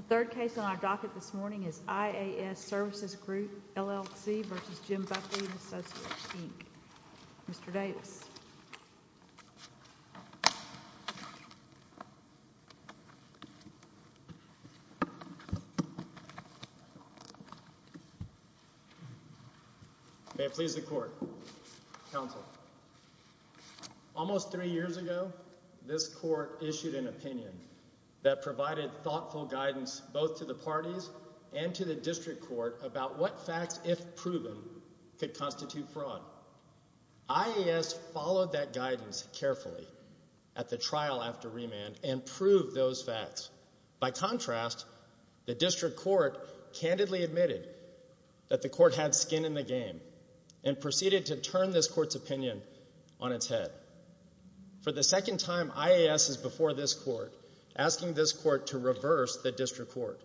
The third case on our docket this morning is IAS Services Group, LLC, versus Jim Buckley and Associates, Inc. Mr. Davis. May it please the court, counsel. Almost three years ago, this court issued an opinion that provided thoughtful guidance both to the parties and to the district court about what facts, if proven, could constitute fraud. IAS followed that guidance carefully at the trial after remand and proved those facts. By contrast, the district court candidly admitted that the court had skin in the game and proceeded to turn this court's opinion on its head. For the second time, IAS is before this court asking this court to reverse the district court.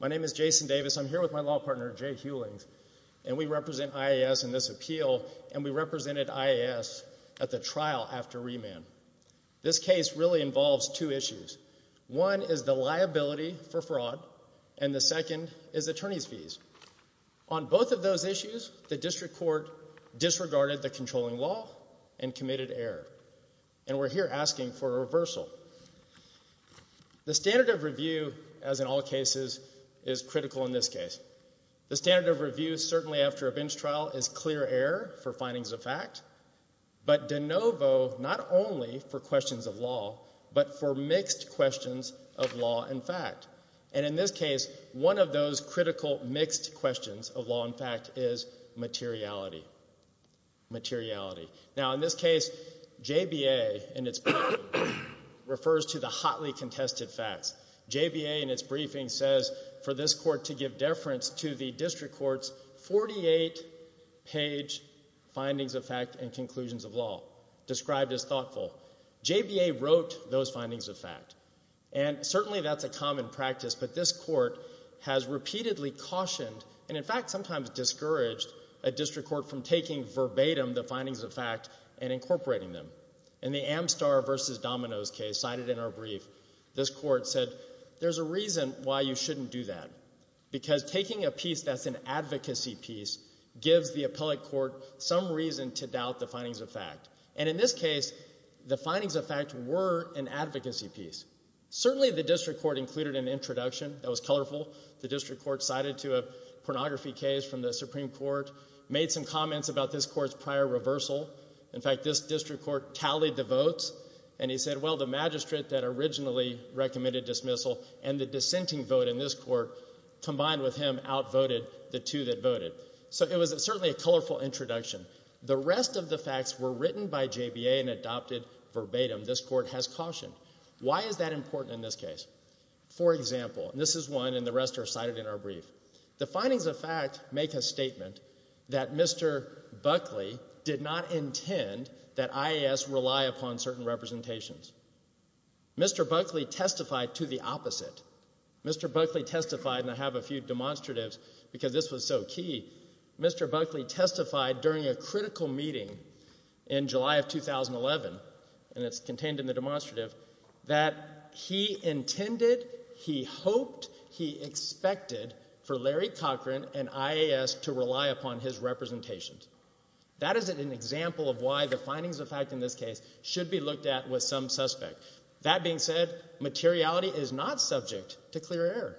My name is Jason Davis. I'm here with my law partner, Jay Hulings, and we represent IAS in this appeal, and we represented IAS at the trial after remand. This case really involves two issues. One is the liability for fraud, and the second is attorney's fees. On both of those issues, the district court disregarded the controlling law and committed error, and we're here asking for a reversal. So, the standard of review, as in all cases, is critical in this case. The standard of review, certainly after a bench trial, is clear error for findings of fact, but de novo, not only for questions of law, but for mixed questions of law and fact. And in this case, one of those critical mixed questions of law and fact is materiality. Materiality. Now, in this case, JBA, in its briefing, refers to the hotly contested facts. JBA, in its briefing, says for this court to give deference to the district court's 48-page findings of fact and conclusions of law, described as thoughtful. JBA wrote those findings of fact, and certainly that's a common practice, but this court has repeatedly cautioned, and in fact sometimes discouraged, a district court from taking verbatim the findings of fact and incorporating them. In the Amstar v. Domino's case cited in our brief, this court said, there's a reason why you shouldn't do that, because taking a piece that's an advocacy piece gives the appellate court some reason to doubt the findings of fact. And in this case, the findings of fact were an advocacy piece. Certainly the district court included an introduction that was colorful. The district court cited to a pornography case from the Supreme Court, made some comments about this court's prior reversal. In fact, this district court tallied the votes, and he said, well, the magistrate that originally recommended dismissal and the dissenting vote in this court, combined with him, outvoted the two that voted. So it was certainly a colorful introduction. The rest of the facts were written by JBA and adopted verbatim. This court has cautioned. Why is that important in this case? For example, and this is one, and the rest are cited in our brief. The findings of fact make a statement that Mr. Buckley did not intend that IAS rely upon certain representations. Mr. Buckley testified to the opposite. Mr. Buckley testified, and I have a few demonstratives because this was so key, Mr. Buckley testified during a critical meeting in July of 2011, and it's contained in the demonstrative, that he intended, he hoped, he expected for Larry Cochran and IAS to rely upon his representations. That is an example of why the findings of fact in this case should be looked at with some suspect. That being said, materiality is not subject to clear error.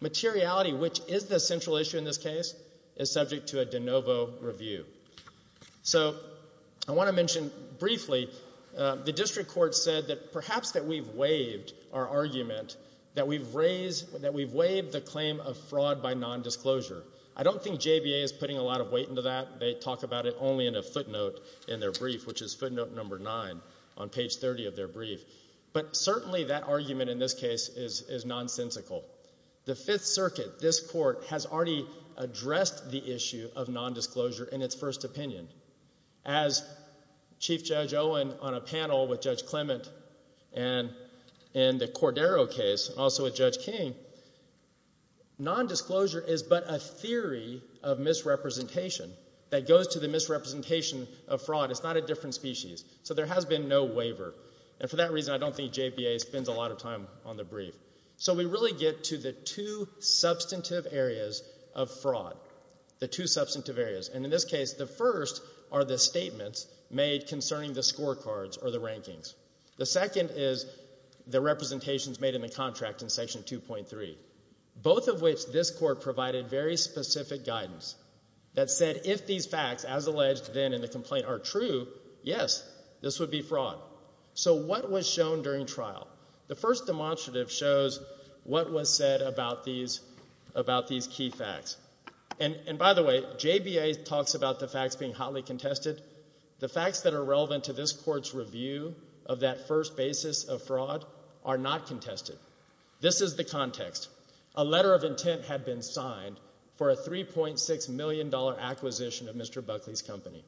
Materiality, which is the central issue in this case, is subject to a de novo review. So, I want to mention briefly, the district court said that perhaps that we've waived our argument, that we've raised, that we've waived the claim of fraud by nondisclosure. I don't think JBA is putting a lot of weight into that. They talk about it only in a footnote in their brief, which is footnote number nine on page 30 of their brief. But certainly that argument in this case is nonsensical. The Fifth Circuit, this court, has already addressed the issue of nondisclosure in its first opinion. As Chief Judge Owen on a panel with Judge Clement and in the Cordero case, also with Judge King, nondisclosure is but a theory of misrepresentation that goes to the misrepresentation of fraud. It's not a different species. So there has been no waiver, and for that reason I don't think JBA spends a lot of time on the brief. So we really get to the two substantive areas of fraud. The two substantive areas, and in this case the first are the statements made concerning the scorecards or the rankings. The second is the representations made in the contract in section 2.3, both of which this court provided very specific guidance that said if these facts, as alleged then in the complaint, are true, yes, this would be fraud. So what was shown during trial? The first demonstrative shows what was said about these key facts. And by the way, JBA talks about the facts being hotly contested. The facts that are relevant to this court's review of that first basis of fraud are not contested. This is the context. A letter of intent had been signed for a $3.6 million acquisition of Mr. Buckley's company.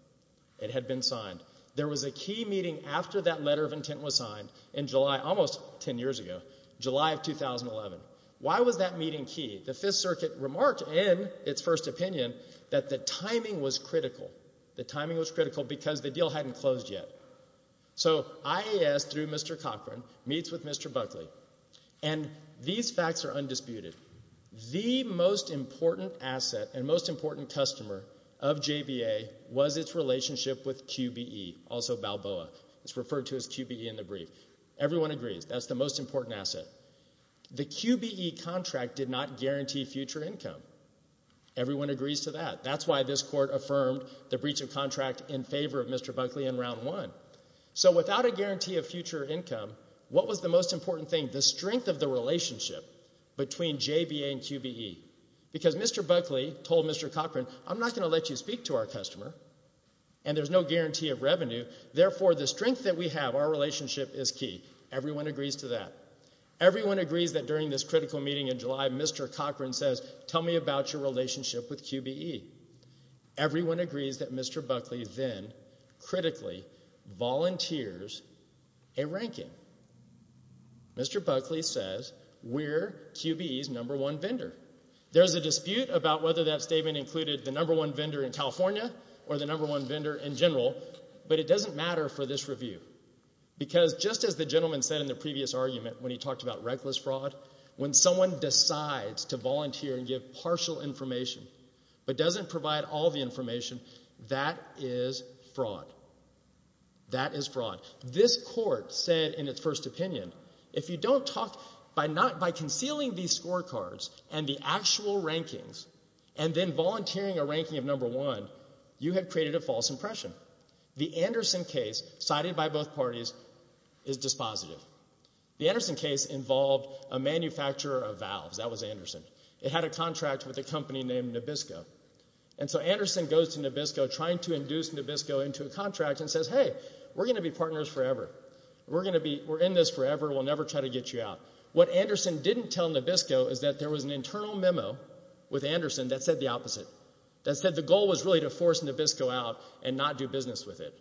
It had been signed. There was a key meeting after that letter of intent was signed in July, almost 10 years ago, July of 2011. Why was that meeting key? The Fifth Circuit remarked in its first opinion that the timing was critical. The timing was critical because the deal hadn't closed yet. So IAS, through Mr. Cochran, meets with Mr. Buckley, and these facts are undisputed. The most important asset and most important customer of JBA was its relationship with QBE, also Balboa. It's referred to as QBE in the brief. Everyone agrees that's the most important asset. The QBE contract did not guarantee future income. Everyone agrees to that. That's why this court affirmed the breach of contract in favor of Mr. Buckley in round one. So without a guarantee of future income, what was the most important thing? The strength of the relationship between JBA and QBE. Because Mr. Buckley told Mr. Cochran, I'm not going to let you speak to our customer, and there's no guarantee of revenue, therefore the strength that we have, our relationship, is key. Everyone agrees to that. Everyone agrees that during this critical meeting in July, Mr. Cochran says, tell me about your relationship with QBE. Everyone agrees that Mr. Buckley then, critically, volunteers a ranking. Mr. Buckley says, we're QBE's number one vendor. There's a dispute about whether that statement included the number one vendor in California or the number one vendor in general, but it doesn't matter for this review. Because just as the gentleman said in the previous argument when he talked about reckless fraud, when someone decides to volunteer and give partial information but doesn't provide That is fraud. This court said in its first opinion, if you don't talk, by concealing these scorecards and the actual rankings, and then volunteering a ranking of number one, you have created a false impression. The Anderson case, cited by both parties, is dispositive. The Anderson case involved a manufacturer of valves. That was Anderson. It had a contract with a company named Nabisco. And so Anderson goes to Nabisco trying to induce Nabisco into a contract and says, hey, we're going to be partners forever. We're going to be, we're in this forever, we'll never try to get you out. What Anderson didn't tell Nabisco is that there was an internal memo with Anderson that said the opposite. That said the goal was really to force Nabisco out and not do business with it.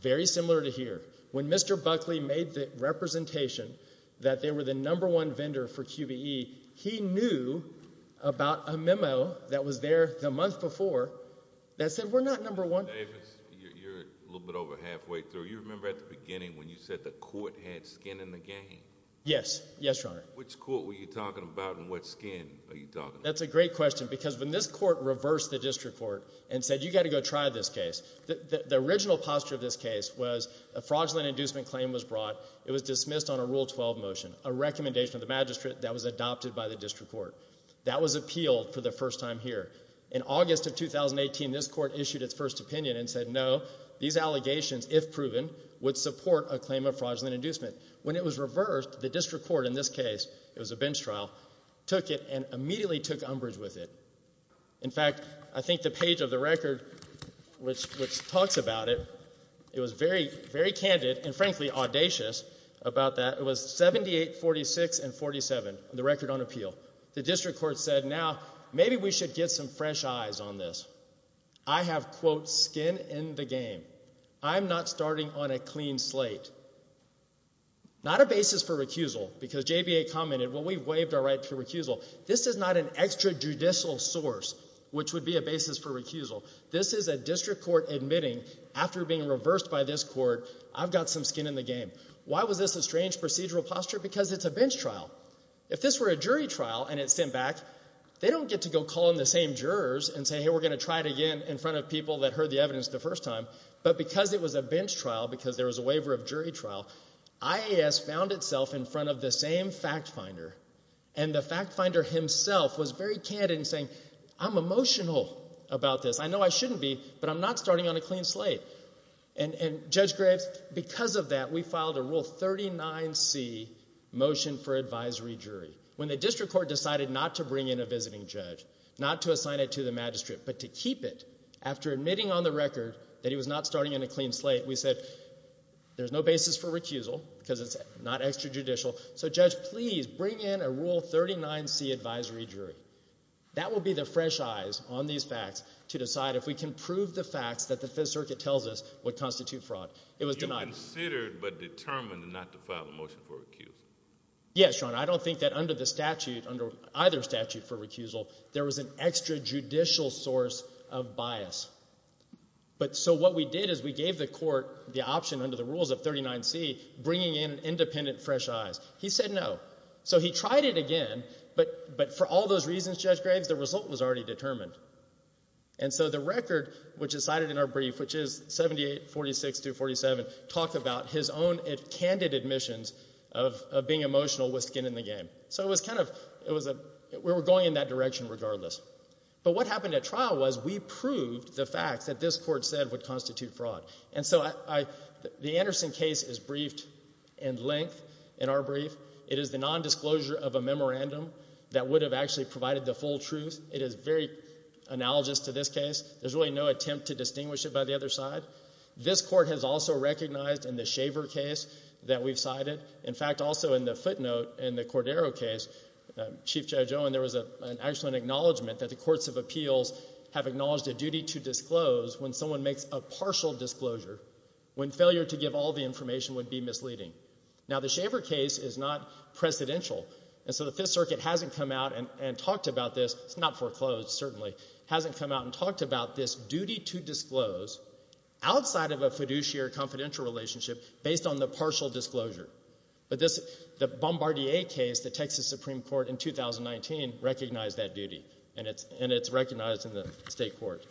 Very similar to here. When Mr. Buckley made the representation that they were the number one vendor for QBE, he knew about a memo that was there the month before that said, we're not number one. Mr. Davis, you're a little bit over halfway through. You remember at the beginning when you said the court had skin in the game? Yes. Yes, Your Honor. Which court were you talking about and what skin are you talking about? That's a great question because when this court reversed the district court and said, you got to go try this case, the original posture of this case was a fraudulent inducement claim was brought. It was dismissed on a Rule 12 motion, a recommendation of the magistrate that was adopted by the district court. That was appealed for the first time here. In August of 2018, this court issued its first opinion and said, no, these allegations, if proven, would support a claim of fraudulent inducement. When it was reversed, the district court in this case, it was a bench trial, took it and immediately took umbrage with it. In fact, I think the page of the record which talks about it, it was very, very candid and frankly audacious about that. It was 78-46 and 47, the record on appeal. The district court said, now, maybe we should get some fresh eyes on this. I have, quote, skin in the game. I'm not starting on a clean slate. Not a basis for recusal because JBA commented, well, we've waived our right to recusal. This is not an extrajudicial source which would be a basis for recusal. This is a district court admitting after being reversed by this court, I've got some skin in the game. Why was this a strange procedural posture? Because it's a bench trial. If this were a jury trial and it's sent back, they don't get to go call in the same jurors and say, hey, we're going to try it again in front of people that heard the evidence the first time. But because it was a bench trial, because there was a waiver of jury trial, IAS found itself in front of the same fact finder. And the fact finder himself was very candid in saying, I'm emotional about this. I know I shouldn't be, but I'm not starting on a clean slate. And Judge Graves, because of that, we filed a Rule 39C motion for advisory jury. When the district court decided not to bring in a visiting judge, not to assign it to the magistrate, but to keep it, after admitting on the record that he was not starting on a clean slate, we said, there's no basis for recusal because it's not extrajudicial. So judge, please bring in a Rule 39C advisory jury. That will be the fresh eyes on these facts to decide if we can prove the facts that the statute tells us would constitute fraud. It was denied. You considered but determined not to file a motion for recusal? Yes, your honor. I don't think that under the statute, under either statute for recusal, there was an extrajudicial source of bias. But so what we did is we gave the court the option under the rules of 39C, bringing in independent fresh eyes. He said no. So he tried it again, but for all those reasons, Judge Graves, the result was already determined. And so the record, which is cited in our brief, which is 7846-247, talked about his own candid admissions of being emotional with skin in the game. So it was kind of, it was a, we were going in that direction regardless. But what happened at trial was we proved the facts that this court said would constitute fraud. And so I, the Anderson case is briefed in length in our brief. It is the nondisclosure of a memorandum that would have actually provided the full truth. It is very analogous to this case. There's really no attempt to distinguish it by the other side. This court has also recognized in the Shaver case that we've cited, in fact, also in the footnote in the Cordero case, Chief Judge Owen, there was an excellent acknowledgment that the courts of appeals have acknowledged a duty to disclose when someone makes a partial disclosure, when failure to give all the information would be misleading. Now the Shaver case is not precedential, and so the Fifth Circuit hasn't come out and talked about this, it's not foreclosed certainly, hasn't come out and talked about this duty to disclose outside of a fiduciary confidential relationship based on the partial disclosure. But this, the Bombardier case, the Texas Supreme Court in 2019 recognized that duty, and it's recognized in the state court.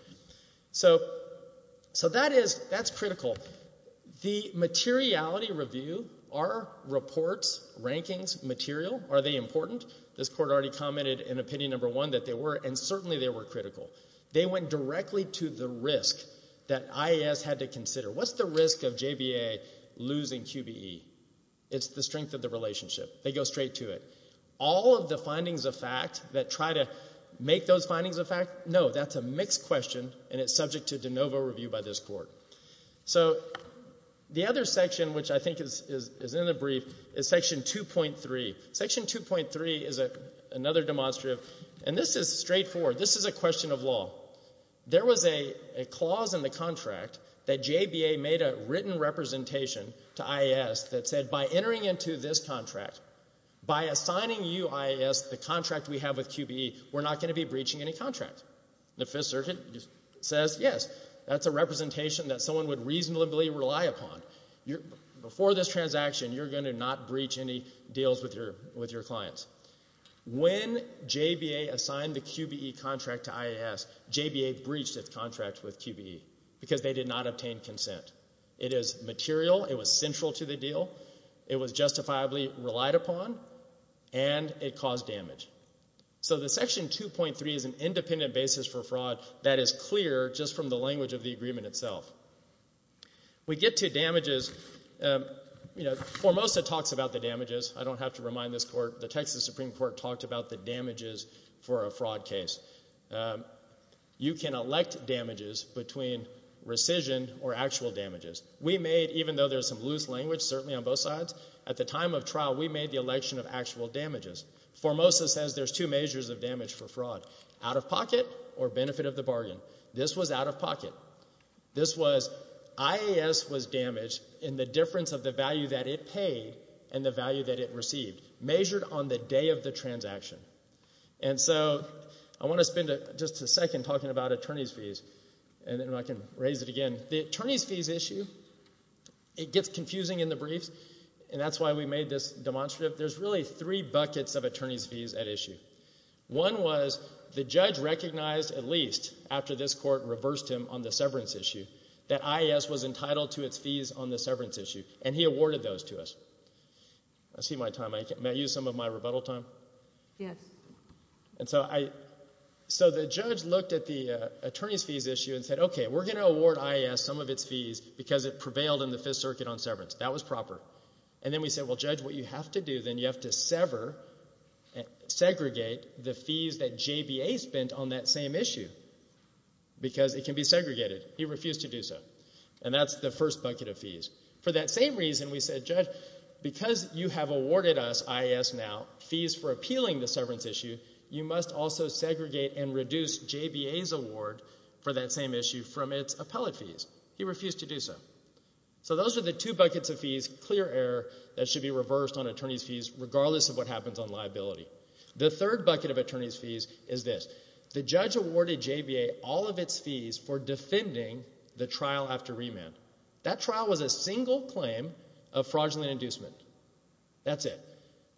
So that is, that's critical. The materiality review, are reports, rankings, material, are they important? This court already commented in opinion number one that they were, and certainly they were critical. They went directly to the risk that IAS had to consider. What's the risk of JBA losing QBE? It's the strength of the relationship. They go straight to it. All of the findings of fact that try to make those findings a fact, no, that's a mixed question and it's subject to de novo review by this court. So the other section, which I think is in the brief, is section 2.3. Section 2.3 is another demonstrative, and this is straightforward, this is a question of law. There was a clause in the contract that JBA made a written representation to IAS that said, by entering into this contract, by assigning you, IAS, the contract we have with QBE, we're not going to be breaching any contract. The Fifth Circuit says, yes, that's a representation that someone would reasonably rely upon. Before this transaction, you're going to not breach any deals with your clients. When JBA assigned the QBE contract to IAS, JBA breached its contract with QBE because they did not obtain consent. It is material, it was central to the deal, it was justifiably relied upon, and it caused damage. So the section 2.3 is an independent basis for fraud that is clear just from the language of the agreement itself. We get to damages. You know, Formosa talks about the damages, I don't have to remind this Court, the Texas Supreme Court talked about the damages for a fraud case. You can elect damages between rescission or actual damages. We made, even though there's some loose language, certainly on both sides, at the time of trial we made the election of actual damages. Formosa says there's two measures of damage for fraud, out of pocket or benefit of the bargain. This was out of pocket. This was IAS was damaged in the difference of the value that it paid and the value that it received, measured on the day of the transaction. And so I want to spend just a second talking about attorney's fees, and then I can raise it again. The attorney's fees issue, it gets confusing in the briefs, and that's why we made this demonstrative. There's really three buckets of attorney's fees at issue. One was the judge recognized, at least after this Court reversed him on the severance issue, that IAS was entitled to its fees on the severance issue, and he awarded those to us. I see my time, may I use some of my rebuttal time? Yes. And so I, so the judge looked at the attorney's fees issue and said, okay, we're going to award IAS some of its fees because it prevailed in the Fifth Circuit on severance. That was proper. And then we said, well, Judge, what you have to do, then, you have to sever, segregate the fees that JBA spent on that same issue because it can be segregated. He refused to do so. And that's the first bucket of fees. For that same reason, we said, Judge, because you have awarded us, IAS now, fees for appealing the severance issue, you must also segregate and reduce JBA's award for that same issue from its appellate fees. He refused to do so. So those are the two buckets of fees, clear error, that should be reversed on attorney's fees regardless of what happens on liability. The third bucket of attorney's fees is this. The judge awarded JBA all of its fees for defending the trial after remand. That trial was a single claim of fraudulent inducement. That's it.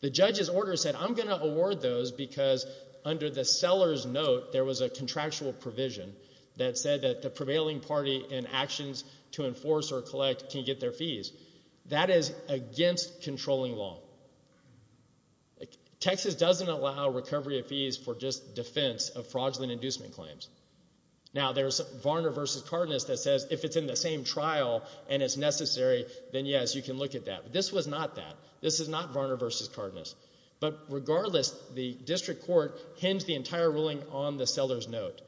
The judge's order said, I'm going to award those because under the seller's note there was a contractual provision that said that the prevailing party in actions to enforce or collect can get their fees. That is against controlling law. Texas doesn't allow recovery of fees for just defense of fraudulent inducement claims. Now there's Varner v. Cardenas that says if it's in the same trial and it's necessary, then yes, you can look at that. This was not that. This is not Varner v. Cardenas. But regardless, the district court hens the entire ruling on the seller's note.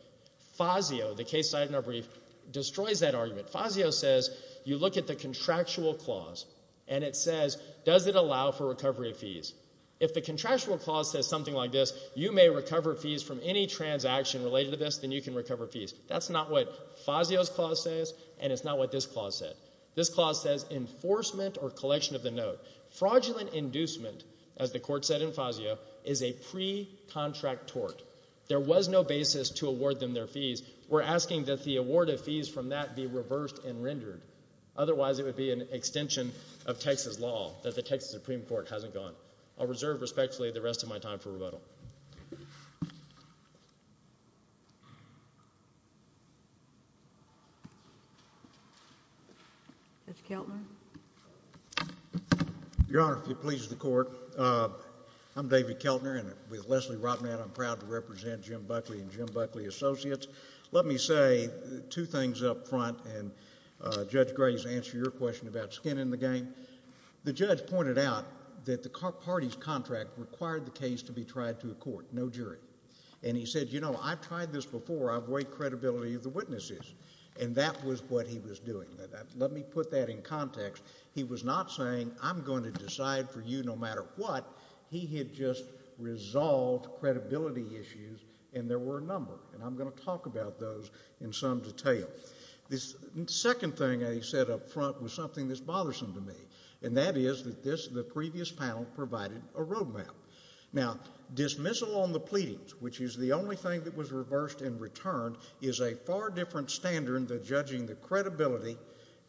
Fazio, the case cited in our brief, destroys that argument. Fazio says you look at the contractual clause and it says, does it allow for recovery of fees? If the contractual clause says something like this, you may recover fees from any transaction related to this, then you can recover fees. That's not what Fazio's clause says and it's not what this clause said. This clause says enforcement or collection of the note. Fraudulent inducement, as the court said in Fazio, is a pre-contract tort. There was no basis to award them their fees. We're asking that the award of fees from that be reversed and rendered. Otherwise, it would be an extension of Texas law, that the Texas Supreme Court hasn't gone. I'll reserve respectfully the rest of my time for rebuttal. Judge Keltner? Your Honor, if it pleases the court, I'm David Keltner and with Leslie Rotman, I'm proud to represent Jim Buckley and Jim Buckley Associates. Let me say two things up front and Judge Graves, answer your question about skin in the game. The judge pointed out that the parties' contract required the case to be tried to a court, no jury. And he said, you know, I've tried this before, I avoid credibility of the witnesses. And that was what he was doing. Let me put that in context. He was not saying, I'm going to decide for you no matter what. He had just resolved credibility issues and there were a number and I'm going to talk about those in some detail. The second thing I said up front was something that's bothersome to me and that is that this, the previous panel, provided a road map. Now, dismissal on the pleadings, which is the only thing that was reversed and returned, is a far different standard than judging the credibility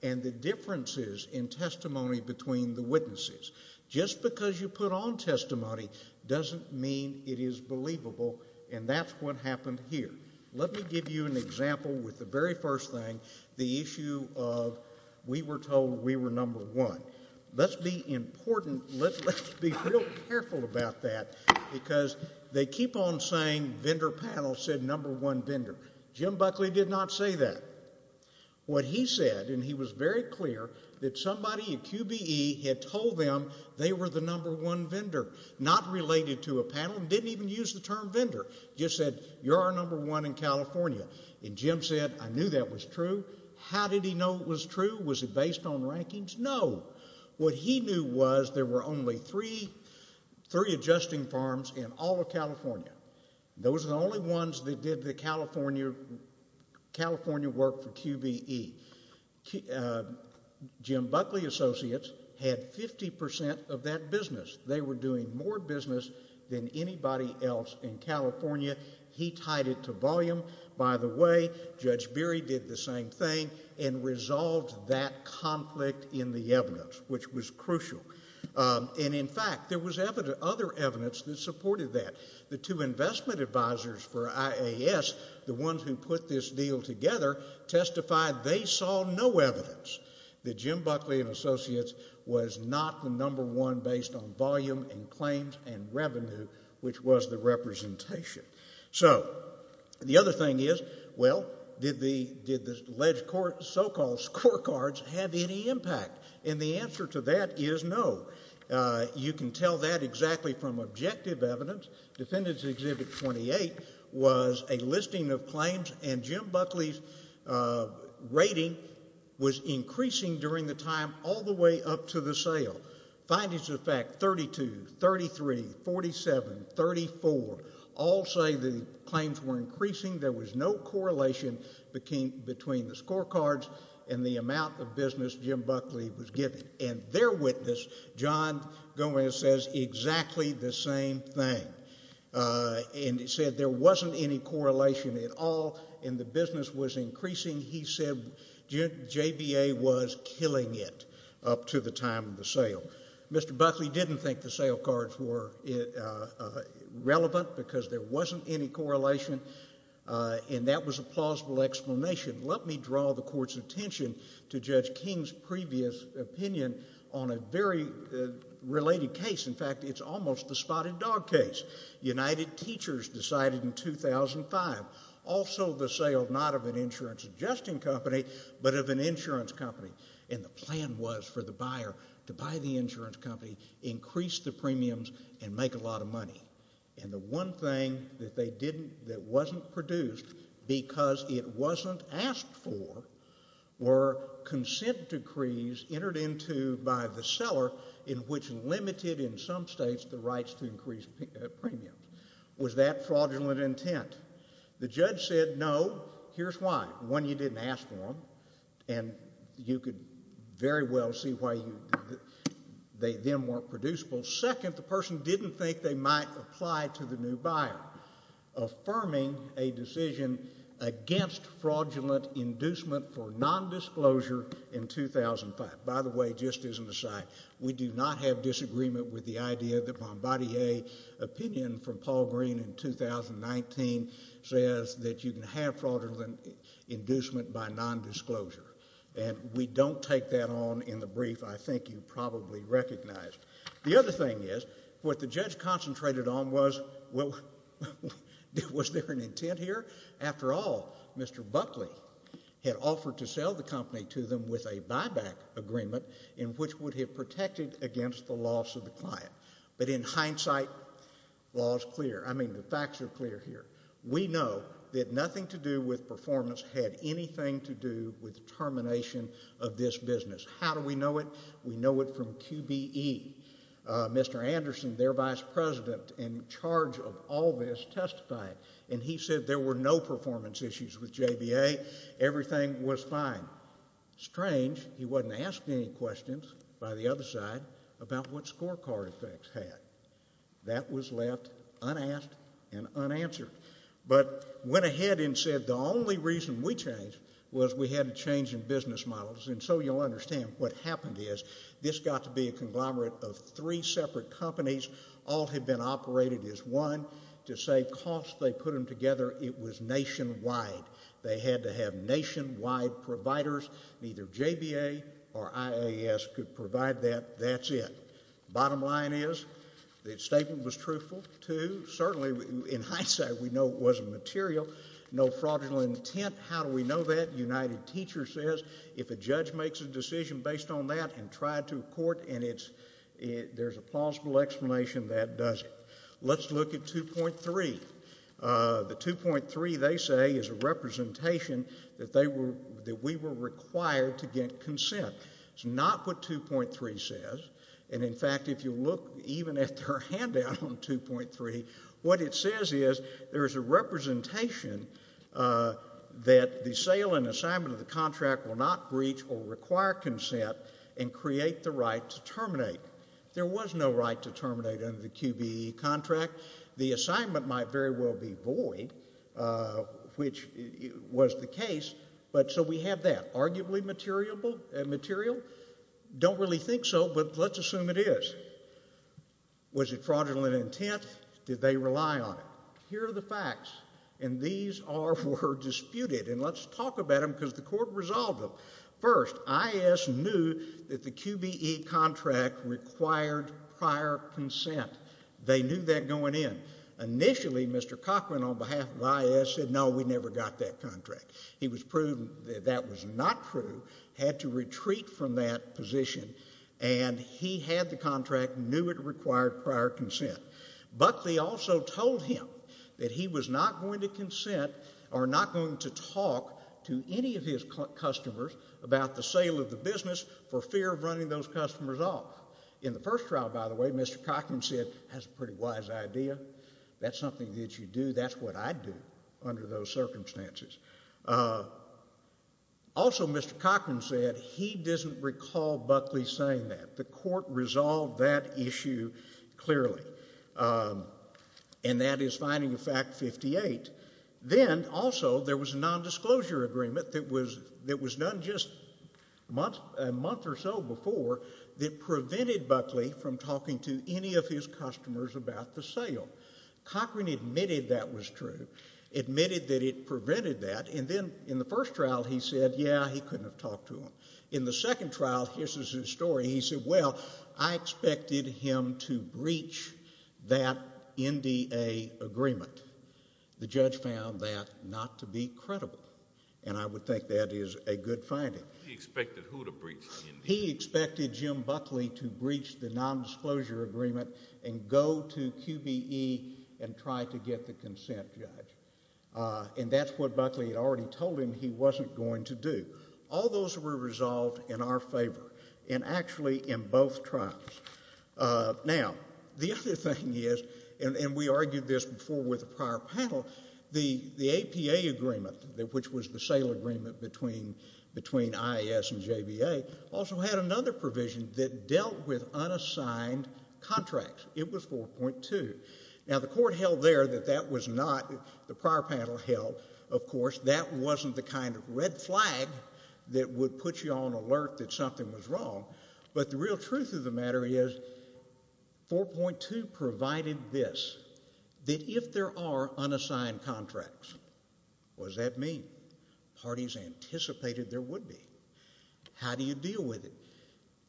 and the differences in testimony between the witnesses. Just because you put on testimony doesn't mean it is believable and that's what happened here. Let me give you an example with the very first thing, the issue of we were told we were number one. Let's be important, let's be real careful about that because they keep on saying vendor panel said number one vendor. Jim Buckley did not say that. What he said, and he was very clear, that somebody at QBE had told them they were the number one vendor. Not related to a panel and didn't even use the term vendor. Just said, you're our number one in California and Jim said, I knew that was true. How did he know it was true? Was it based on rankings? No. What he knew was there were only three adjusting farms in all of California. Those are the only ones that did the California work for QBE. Jim Buckley Associates had 50% of that business. They were doing more business than anybody else in California. He tied it to volume. By the way, Judge Berry did the same thing and resolved that conflict in the evidence, which was crucial. And in fact, there was other evidence that supported that. The two investment advisors for IAS, the ones who put this deal together, testified they saw no evidence that Jim Buckley and Associates was not the number one based on volume. And claims and revenue, which was the representation. So the other thing is, well, did the alleged so-called scorecards have any impact? And the answer to that is no. You can tell that exactly from objective evidence. Defendants Exhibit 28 was a listing of claims and Jim Buckley's rating was increasing during the time all the way up to the sale. Findings of fact 32, 33, 47, 34, all say the claims were increasing. There was no correlation between the scorecards and the amount of business Jim Buckley was given. And their witness, John Gomez, says exactly the same thing. And he said there wasn't any correlation at all and the business was increasing. He said JBA was killing it up to the time of the sale. Mr. Buckley didn't think the sale cards were relevant because there wasn't any correlation and that was a plausible explanation. Let me draw the court's attention to Judge King's previous opinion on a very related case. In fact, it's almost the spotted dog case. United Teachers decided in 2005. Also the sale, not of an insurance adjusting company, but of an insurance company. And the plan was for the buyer to buy the insurance company, increase the premiums and make a lot of money. And the one thing that they didn't, that wasn't produced because it wasn't asked for were consent decrees entered into by the seller in which limited in some states the rights to increased premium. Was that fraudulent intent? The judge said no. Here's why. One, you didn't ask for them and you could very well see why they then weren't producible. Second, the person didn't think they might apply to the new buyer, affirming a decision against fraudulent inducement for nondisclosure in 2005. By the way, just as an aside, we do not have disagreement with the idea that Bombardier opinion from Paul Green in 2019 says that you can have fraudulent inducement by nondisclosure. And we don't take that on in the brief. I think you probably recognized. The other thing is, what the judge concentrated on was, well, was there an intent here? After all, Mr. Buckley had offered to sell the company to them with a buyback agreement in which would have protected against the loss of the client. But in hindsight, law is clear. I mean, the facts are clear here. We know that nothing to do with performance had anything to do with termination of this business. How do we know it? We know it from QBE. Mr. Anderson, their vice president in charge of all this, testified. And he said there were no performance issues with JBA. Everything was fine. Now, strange, he wasn't asked any questions by the other side about what scorecard effects had. That was left unasked and unanswered. But went ahead and said the only reason we changed was we had a change in business models. And so you'll understand what happened is, this got to be a conglomerate of three separate companies. All had been operated as one. To save costs, they put them together. It was nationwide. They had to have nationwide providers. Neither JBA or IAS could provide that. That's it. Bottom line is, the statement was truthful, too. Certainly, in hindsight, we know it wasn't material. No fraudulent intent. How do we know that? United Teachers says if a judge makes a decision based on that and tried to a court and there's a plausible explanation, that does it. Let's look at 2.3. The 2.3, they say, is a representation that we were required to get consent. It's not what 2.3 says. And, in fact, if you look even at their handout on 2.3, what it says is there's a representation that the sale and assignment of the contract will not breach or require consent and create the right to terminate. There was no right to terminate under the QBE contract. The assignment might very well be void, which was the case, but so we have that. Arguably material? Don't really think so, but let's assume it is. Was it fraudulent intent? Did they rely on it? Here are the facts, and these were disputed, and let's talk about them because the court resolved them. First, IAS knew that the QBE contract required prior consent. They knew that going in. Initially, Mr. Cochran, on behalf of IAS, said, no, we never got that contract. He was proven that that was not true, had to retreat from that position, and he had the contract, knew it required prior consent, but they also told him that he was not going to consent or not going to talk to any of his customers about the sale of the business for fear of running those customers off. In the first trial, by the way, Mr. Cochran said, that's a pretty wise idea. That's something that you do. That's what I'd do under those circumstances. Also, Mr. Cochran said he doesn't recall Buckley saying that. The court resolved that issue clearly, and that is finding of fact 58. Then, also, there was a nondisclosure agreement that was done just a month or so before that that prevented Buckley from talking to any of his customers about the sale. Cochran admitted that was true, admitted that it prevented that, and then in the first trial he said, yeah, he couldn't have talked to them. In the second trial, here's his story, he said, well, I expected him to breach that NDA agreement. The judge found that not to be credible, and I would think that is a good finding. He expected who to breach the NDA? He expected Jim Buckley to breach the nondisclosure agreement and go to QBE and try to get the consent judge, and that's what Buckley had already told him he wasn't going to do. All those were resolved in our favor, and actually in both trials. Now, the other thing is, and we argued this before with a prior panel, the APA agreement, which was the sale agreement between IAS and JBA, also had another provision that dealt with unassigned contracts. It was 4.2. Now, the court held there that that was not, the prior panel held, of course, that wasn't the kind of red flag that would put you on alert that something was wrong, but the real truth of the matter is 4.2 provided this, that if there are unassigned contracts, was that mean? Parties anticipated there would be. How do you deal with it?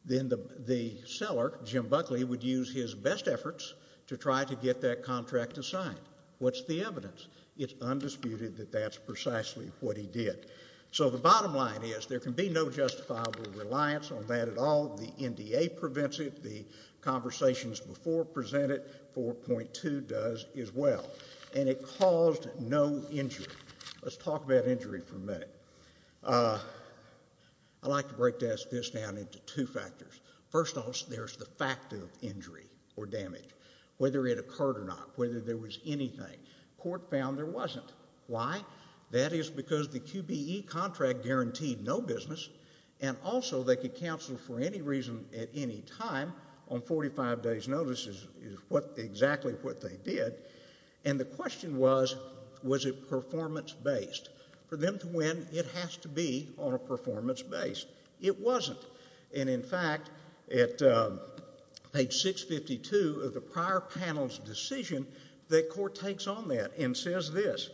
Then the seller, Jim Buckley, would use his best efforts to try to get that contract assigned. What's the evidence? It's undisputed that that's precisely what he did. So the bottom line is, there can be no justifiable reliance on that at all. The NDA prevents it, the conversations before present it, 4.2 does as well, and it caused no injury. Let's talk about injury for a minute. I like to break this down into two factors. First off, there's the fact of injury or damage, whether it occurred or not, whether there was anything. Court found there wasn't. Why? That is because the QBE contract guaranteed no business, and also they could counsel for any reason at any time on 45 days' notice is exactly what they did. And the question was, was it performance-based? For them to win, it has to be on a performance base. It wasn't. And in fact, at page 652 of the prior panel's decision, the court takes on that and says this,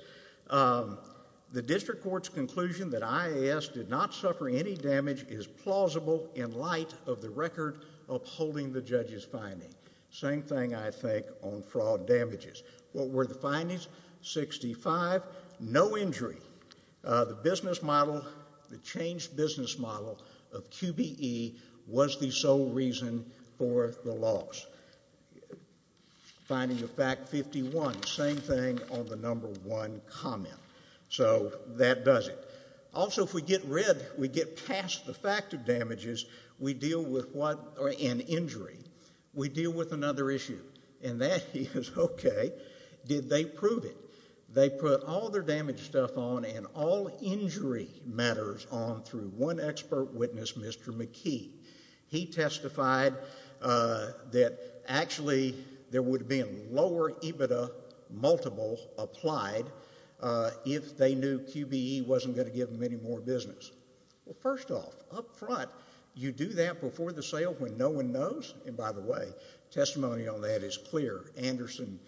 the district court's conclusion that IAS did not suffer any damage is plausible Same thing, I think, on fraud damages. What were the findings? 65. No injury. The business model, the changed business model of QBE was the sole reason for the loss. Finding of fact 51, same thing on the number one comment. So that does it. Also if we get rid, we get past the fact of damages, we deal with what, an injury. We deal with another issue, and that is, okay, did they prove it? They put all their damage stuff on and all injury matters on through one expert witness, Mr. McKee. He testified that actually there would have been lower EBITDA multiple applied if they knew QBE wasn't going to give them any more business. Well, first off, up front, you do that before the sale when no one knows? And by the way, testimony on that is clear. Anderson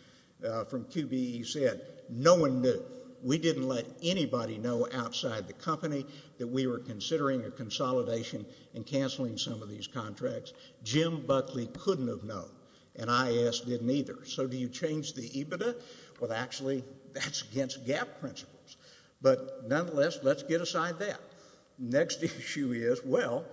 from QBE said no one knew. We didn't let anybody know outside the company that we were considering a consolidation and canceling some of these contracts. Jim Buckley couldn't have known, and IAS didn't either. So do you change the EBITDA? Well, actually, that's against GAAP principles. But nonetheless, let's get aside that. Next issue is, well,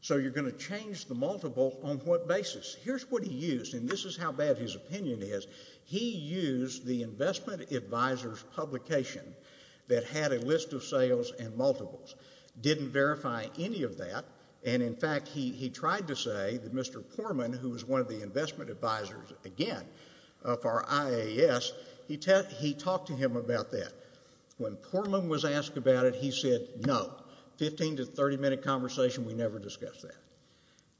so you're going to change the multiple on what basis? Here's what he used, and this is how bad his opinion is. He used the investment advisor's publication that had a list of sales and multiples. Didn't verify any of that, and in fact, he tried to say that Mr. Pormann, who was one of the investment advisors, again, of our IAS, he talked to him about that. When Pormann was asked about it, he said, no, 15 to 30-minute conversation, we never discussed that.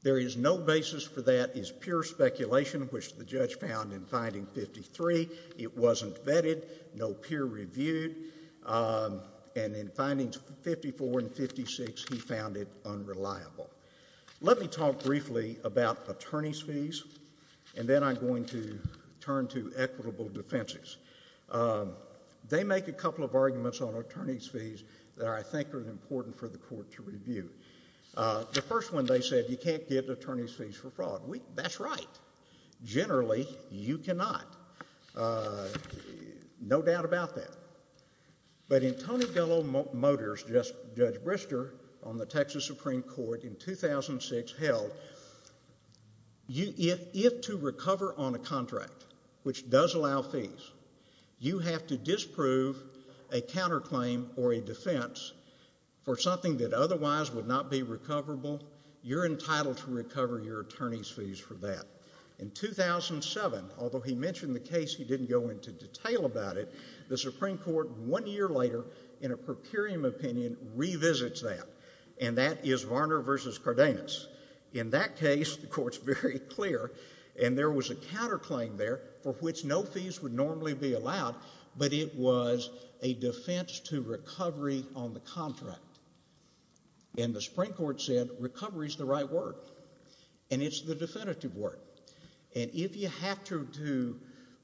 There is no basis for that. It's pure speculation, which the judge found in finding 53. It wasn't vetted, no peer reviewed, and in findings 54 and 56, he found it unreliable. Let me talk briefly about attorney's fees, and then I'm going to turn to equitable defenses. They make a couple of arguments on attorney's fees that I think are important for the court to review. The first one, they said, you can't give attorney's fees for fraud. That's right. Generally, you cannot. No doubt about that. But in Tony Gello Motors, Judge Brister, on the Texas Supreme Court in 2006 held, if to recover on a contract, which does allow fees, you have to disprove a counterclaim or a defense for something that otherwise would not be recoverable, you're entitled to recover your attorney's fees for that. In 2007, although he mentioned the case, he didn't go into detail about it, the Supreme Court, one year later, in a per curiam opinion, revisits that, and that is Varner v. Cardenas. In that case, the court's very clear, and there was a counterclaim there for which no fees would normally be allowed, but it was a defense to recovery on the contract. And the Supreme Court said, recovery's the right word. And it's the definitive word. And if you have to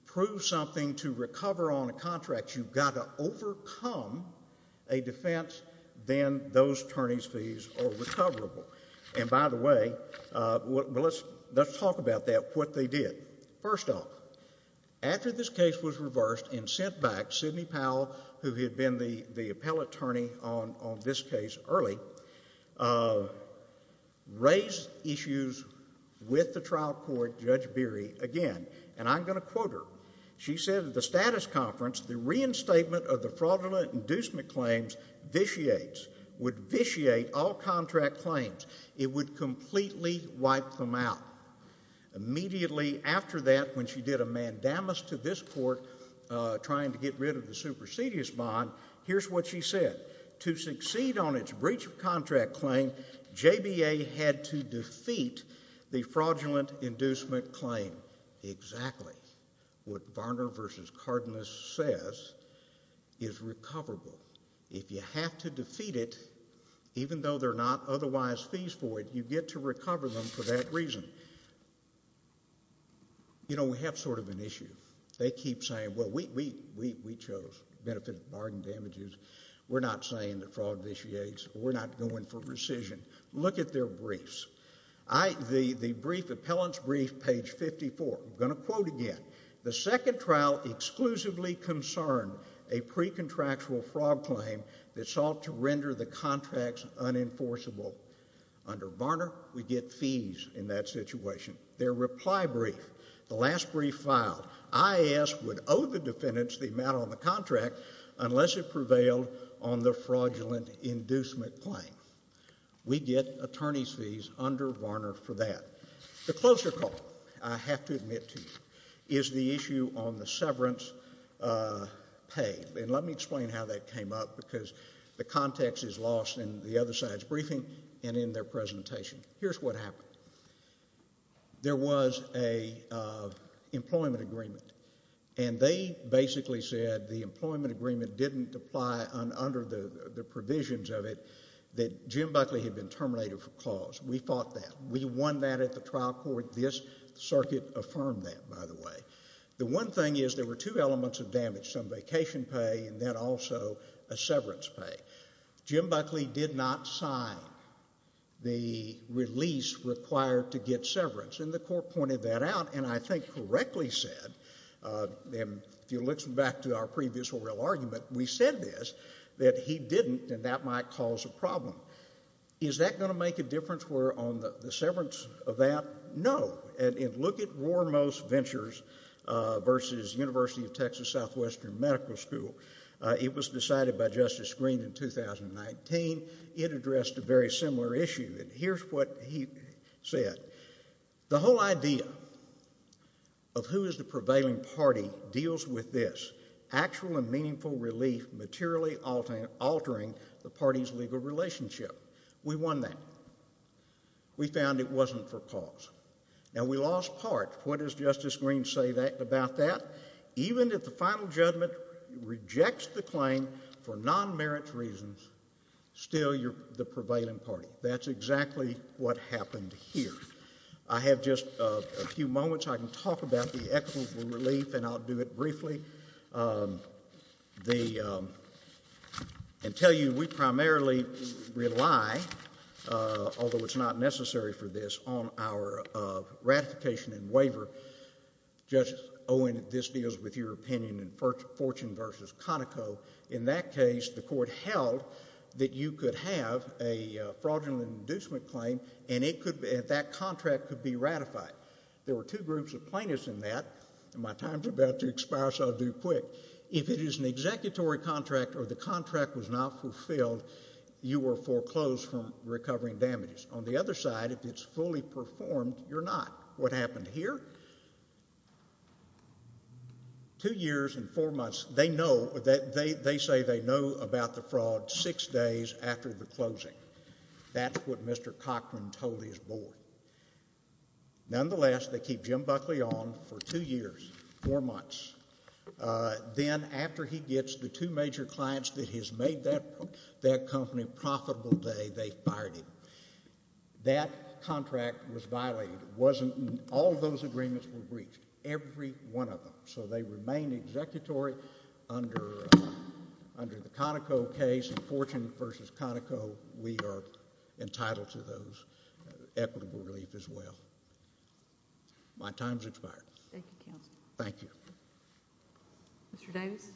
prove something to recover on a contract, you've got to overcome a defense, then those attorney's fees are recoverable. And by the way, let's talk about that, what they did. First off, after this case was reversed and sent back, Sidney Powell, who had been the attorney in charge of the case, she went back to the Supreme Court and said, I'm going to quote her. She said, at the status conference, the reinstatement of the fraudulent inducement claims vitiates, would vitiate all contract claims. It would completely wipe them out. Immediately after that, when she did a mandamus to this court, trying to get rid of the supersedious bond, here's what she said. To succeed on its breach of contract claim, JBA had to defeat the fraudulent inducement claim. Exactly what Varner v. Cardenas says is recoverable. If you have to defeat it, even though they're not otherwise fees void, you get to recover them for that reason. You know, we have sort of an issue. They keep saying, well, we chose to benefit from bargain damages. We're not saying the fraud vitiates. We're not going for rescission. Look at their briefs. The brief, appellant's brief, page 54, I'm going to quote again. The second trial exclusively concerned a pre-contractual fraud claim that sought to render the contracts unenforceable. Under Varner, we get fees in that situation. Their reply brief, the last brief filed, IAS would owe the defendants the amount on the fraudulent inducement claim. We get attorney's fees under Varner for that. The closer call, I have to admit to you, is the issue on the severance pay. Let me explain how that came up because the context is lost in the other side's briefing and in their presentation. Here's what happened. There was an employment agreement, and they basically said the employment agreement didn't apply under the provisions of it, that Jim Buckley had been terminated for cause. We fought that. We won that at the trial court. This circuit affirmed that, by the way. The one thing is there were two elements of damage, some vacation pay and then also a severance pay. Jim Buckley did not sign the release required to get severance, and the court pointed that out and I think correctly said, if you look back to our previous oral argument, we said this, that he didn't, and that might cause a problem. Is that going to make a difference on the severance of that? No. And look at Roremost Ventures versus University of Texas Southwestern Medical School. It was decided by Justice Greene in 2019. It addressed a very similar issue, and here's what he said. The whole idea of who is the prevailing party deals with this. Actual and meaningful relief materially altering the party's legal relationship. We won that. We found it wasn't for cause. Now we lost part. What does Justice Greene say about that? Even if the final judgment rejects the claim for non-merit reasons, still you're the prevailing party. That's exactly what happened here. I have just a few moments I can talk about the equitable relief, and I'll do it briefly. And tell you, we primarily rely, although it's not necessary for this, on our ratification and waiver. Justice Owen, this deals with your opinion in Fortune versus Conoco. In that case, the court held that you could have a fraudulent inducement claim, and it could be, and that contract could be ratified. There were two groups of plaintiffs in that, and my time's about to expire, so I'll do quick. If it is an executory contract or the contract was not fulfilled, you were foreclosed from recovering damages. On the other side, if it's fully performed, you're not. What happened here? Two years and four months, they know, they say they know about the fraud six days after the closing. That's what Mr. Cochran told his board. Nonetheless, they keep Jim Buckley on for two years, four months. Then, after he gets the two major clients that has made that company profitable today, they fired him. That contract was violated. It wasn't, and all of those agreements were breached, every one of them. So, they remain executory under the Conoco case. In Fortune v. Conoco, we are entitled to those equitable relief as well. My time's expired. Thank you, Counselor. Thank you. Mr. Davis?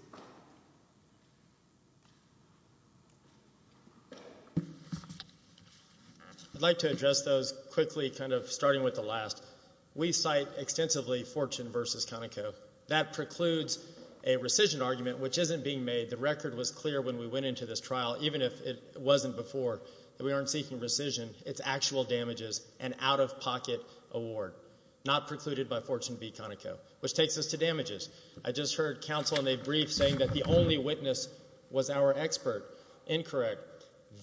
I'd like to address those quickly, kind of starting with the last. We cite extensively Fortune v. Conoco. That precludes a rescission argument, which isn't being made. The record was clear when we went into this trial, even if it wasn't before. We aren't seeking rescission. It's actual damages and out-of-pocket award, not precluded by Fortune v. Conoco, which takes us to damages. I just heard Counsel in a brief saying that the only witness was our expert. Incorrect.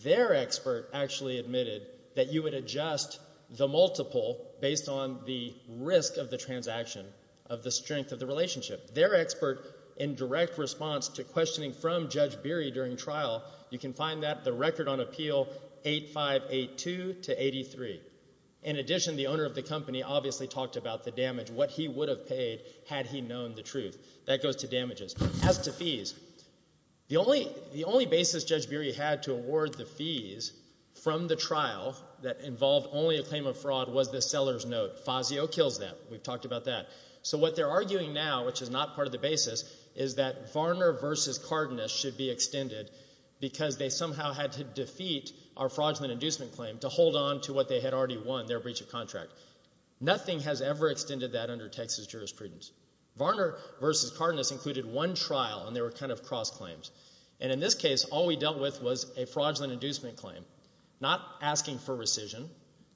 Their expert actually admitted that you would adjust the multiple based on the risk of the transaction of the strength of the relationship. Their expert, in direct response to questioning from Judge Beery during trial, you can find that, the record on appeal, 8582 to 83. In addition, the owner of the company obviously talked about the damage, what he would have paid had he known the truth. That goes to damages. As to fees, the only basis Judge Beery had to award the fees from the trial that involved only a claim of fraud was the seller's note. Fazio kills that. We've talked about that. So what they're arguing now, which is not part of the basis, is that Varner v. Cardenas should be extended because they somehow had to defeat our fraudulent inducement claim to hold on to what they had already won, their breach of contract. Nothing has ever extended that under Texas jurisprudence. Varner v. Cardenas included one trial, and they were kind of cross-claims. In this case, all we dealt with was a fraudulent inducement claim, not asking for rescission.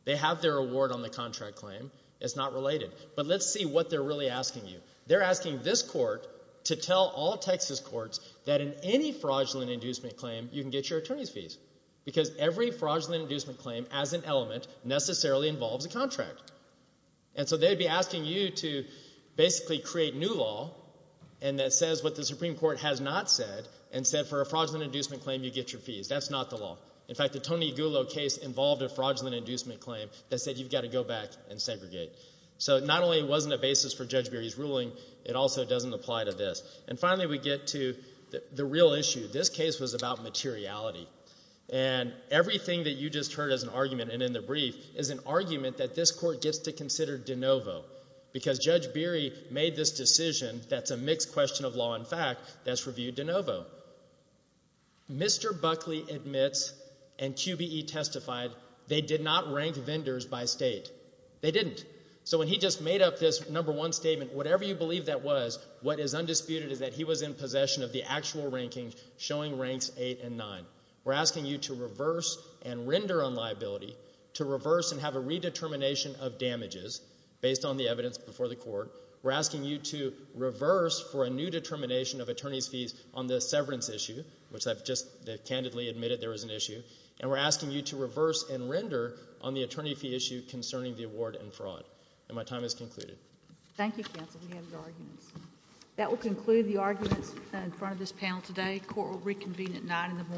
They have their award on the contract claim. It's not related. But let's see what they're really asking you. They're asking this court to tell all Texas courts that in any fraudulent inducement claim you can get your attorney's fees because every fraudulent inducement claim, as an element, necessarily involves a contract. And so they'd be asking you to basically create new law that says what the Supreme Court has not said and said for a fraudulent inducement claim you get your fees. That's not the law. In fact, the Tony Gullo case involved a fraudulent inducement claim that said you've got to go back and segregate. So not only wasn't it a basis for Judge Berry's ruling, it also doesn't apply to this. And finally we get to the real issue. This case was about materiality. And everything that you just heard as an argument and in the brief is an argument that this court gets to consider de novo because Judge Berry made this decision that's a mixed question of law and fact that's reviewed de novo. Mr. Buckley admits and QBE testified they did not rank vendors by state. They didn't. So when he just made up this number one statement, whatever you believe that was, what is undisputed is that he was in possession of the actual ranking showing ranks 8 and 9. We're asking you to reverse and render on liability to reverse and have a redetermination of damages based on the evidence before the court. We're asking you to reverse for a new determination of attorney's fees on the severance issue, which I've just candidly admitted there was an issue. And we're asking you to reverse and render on the attorney fee issue concerning the award and fraud. And my time has concluded. Thank you, counsel. We have your arguments. That will conclude the arguments in front of this panel today. Court will reconvene at 9 in the morning.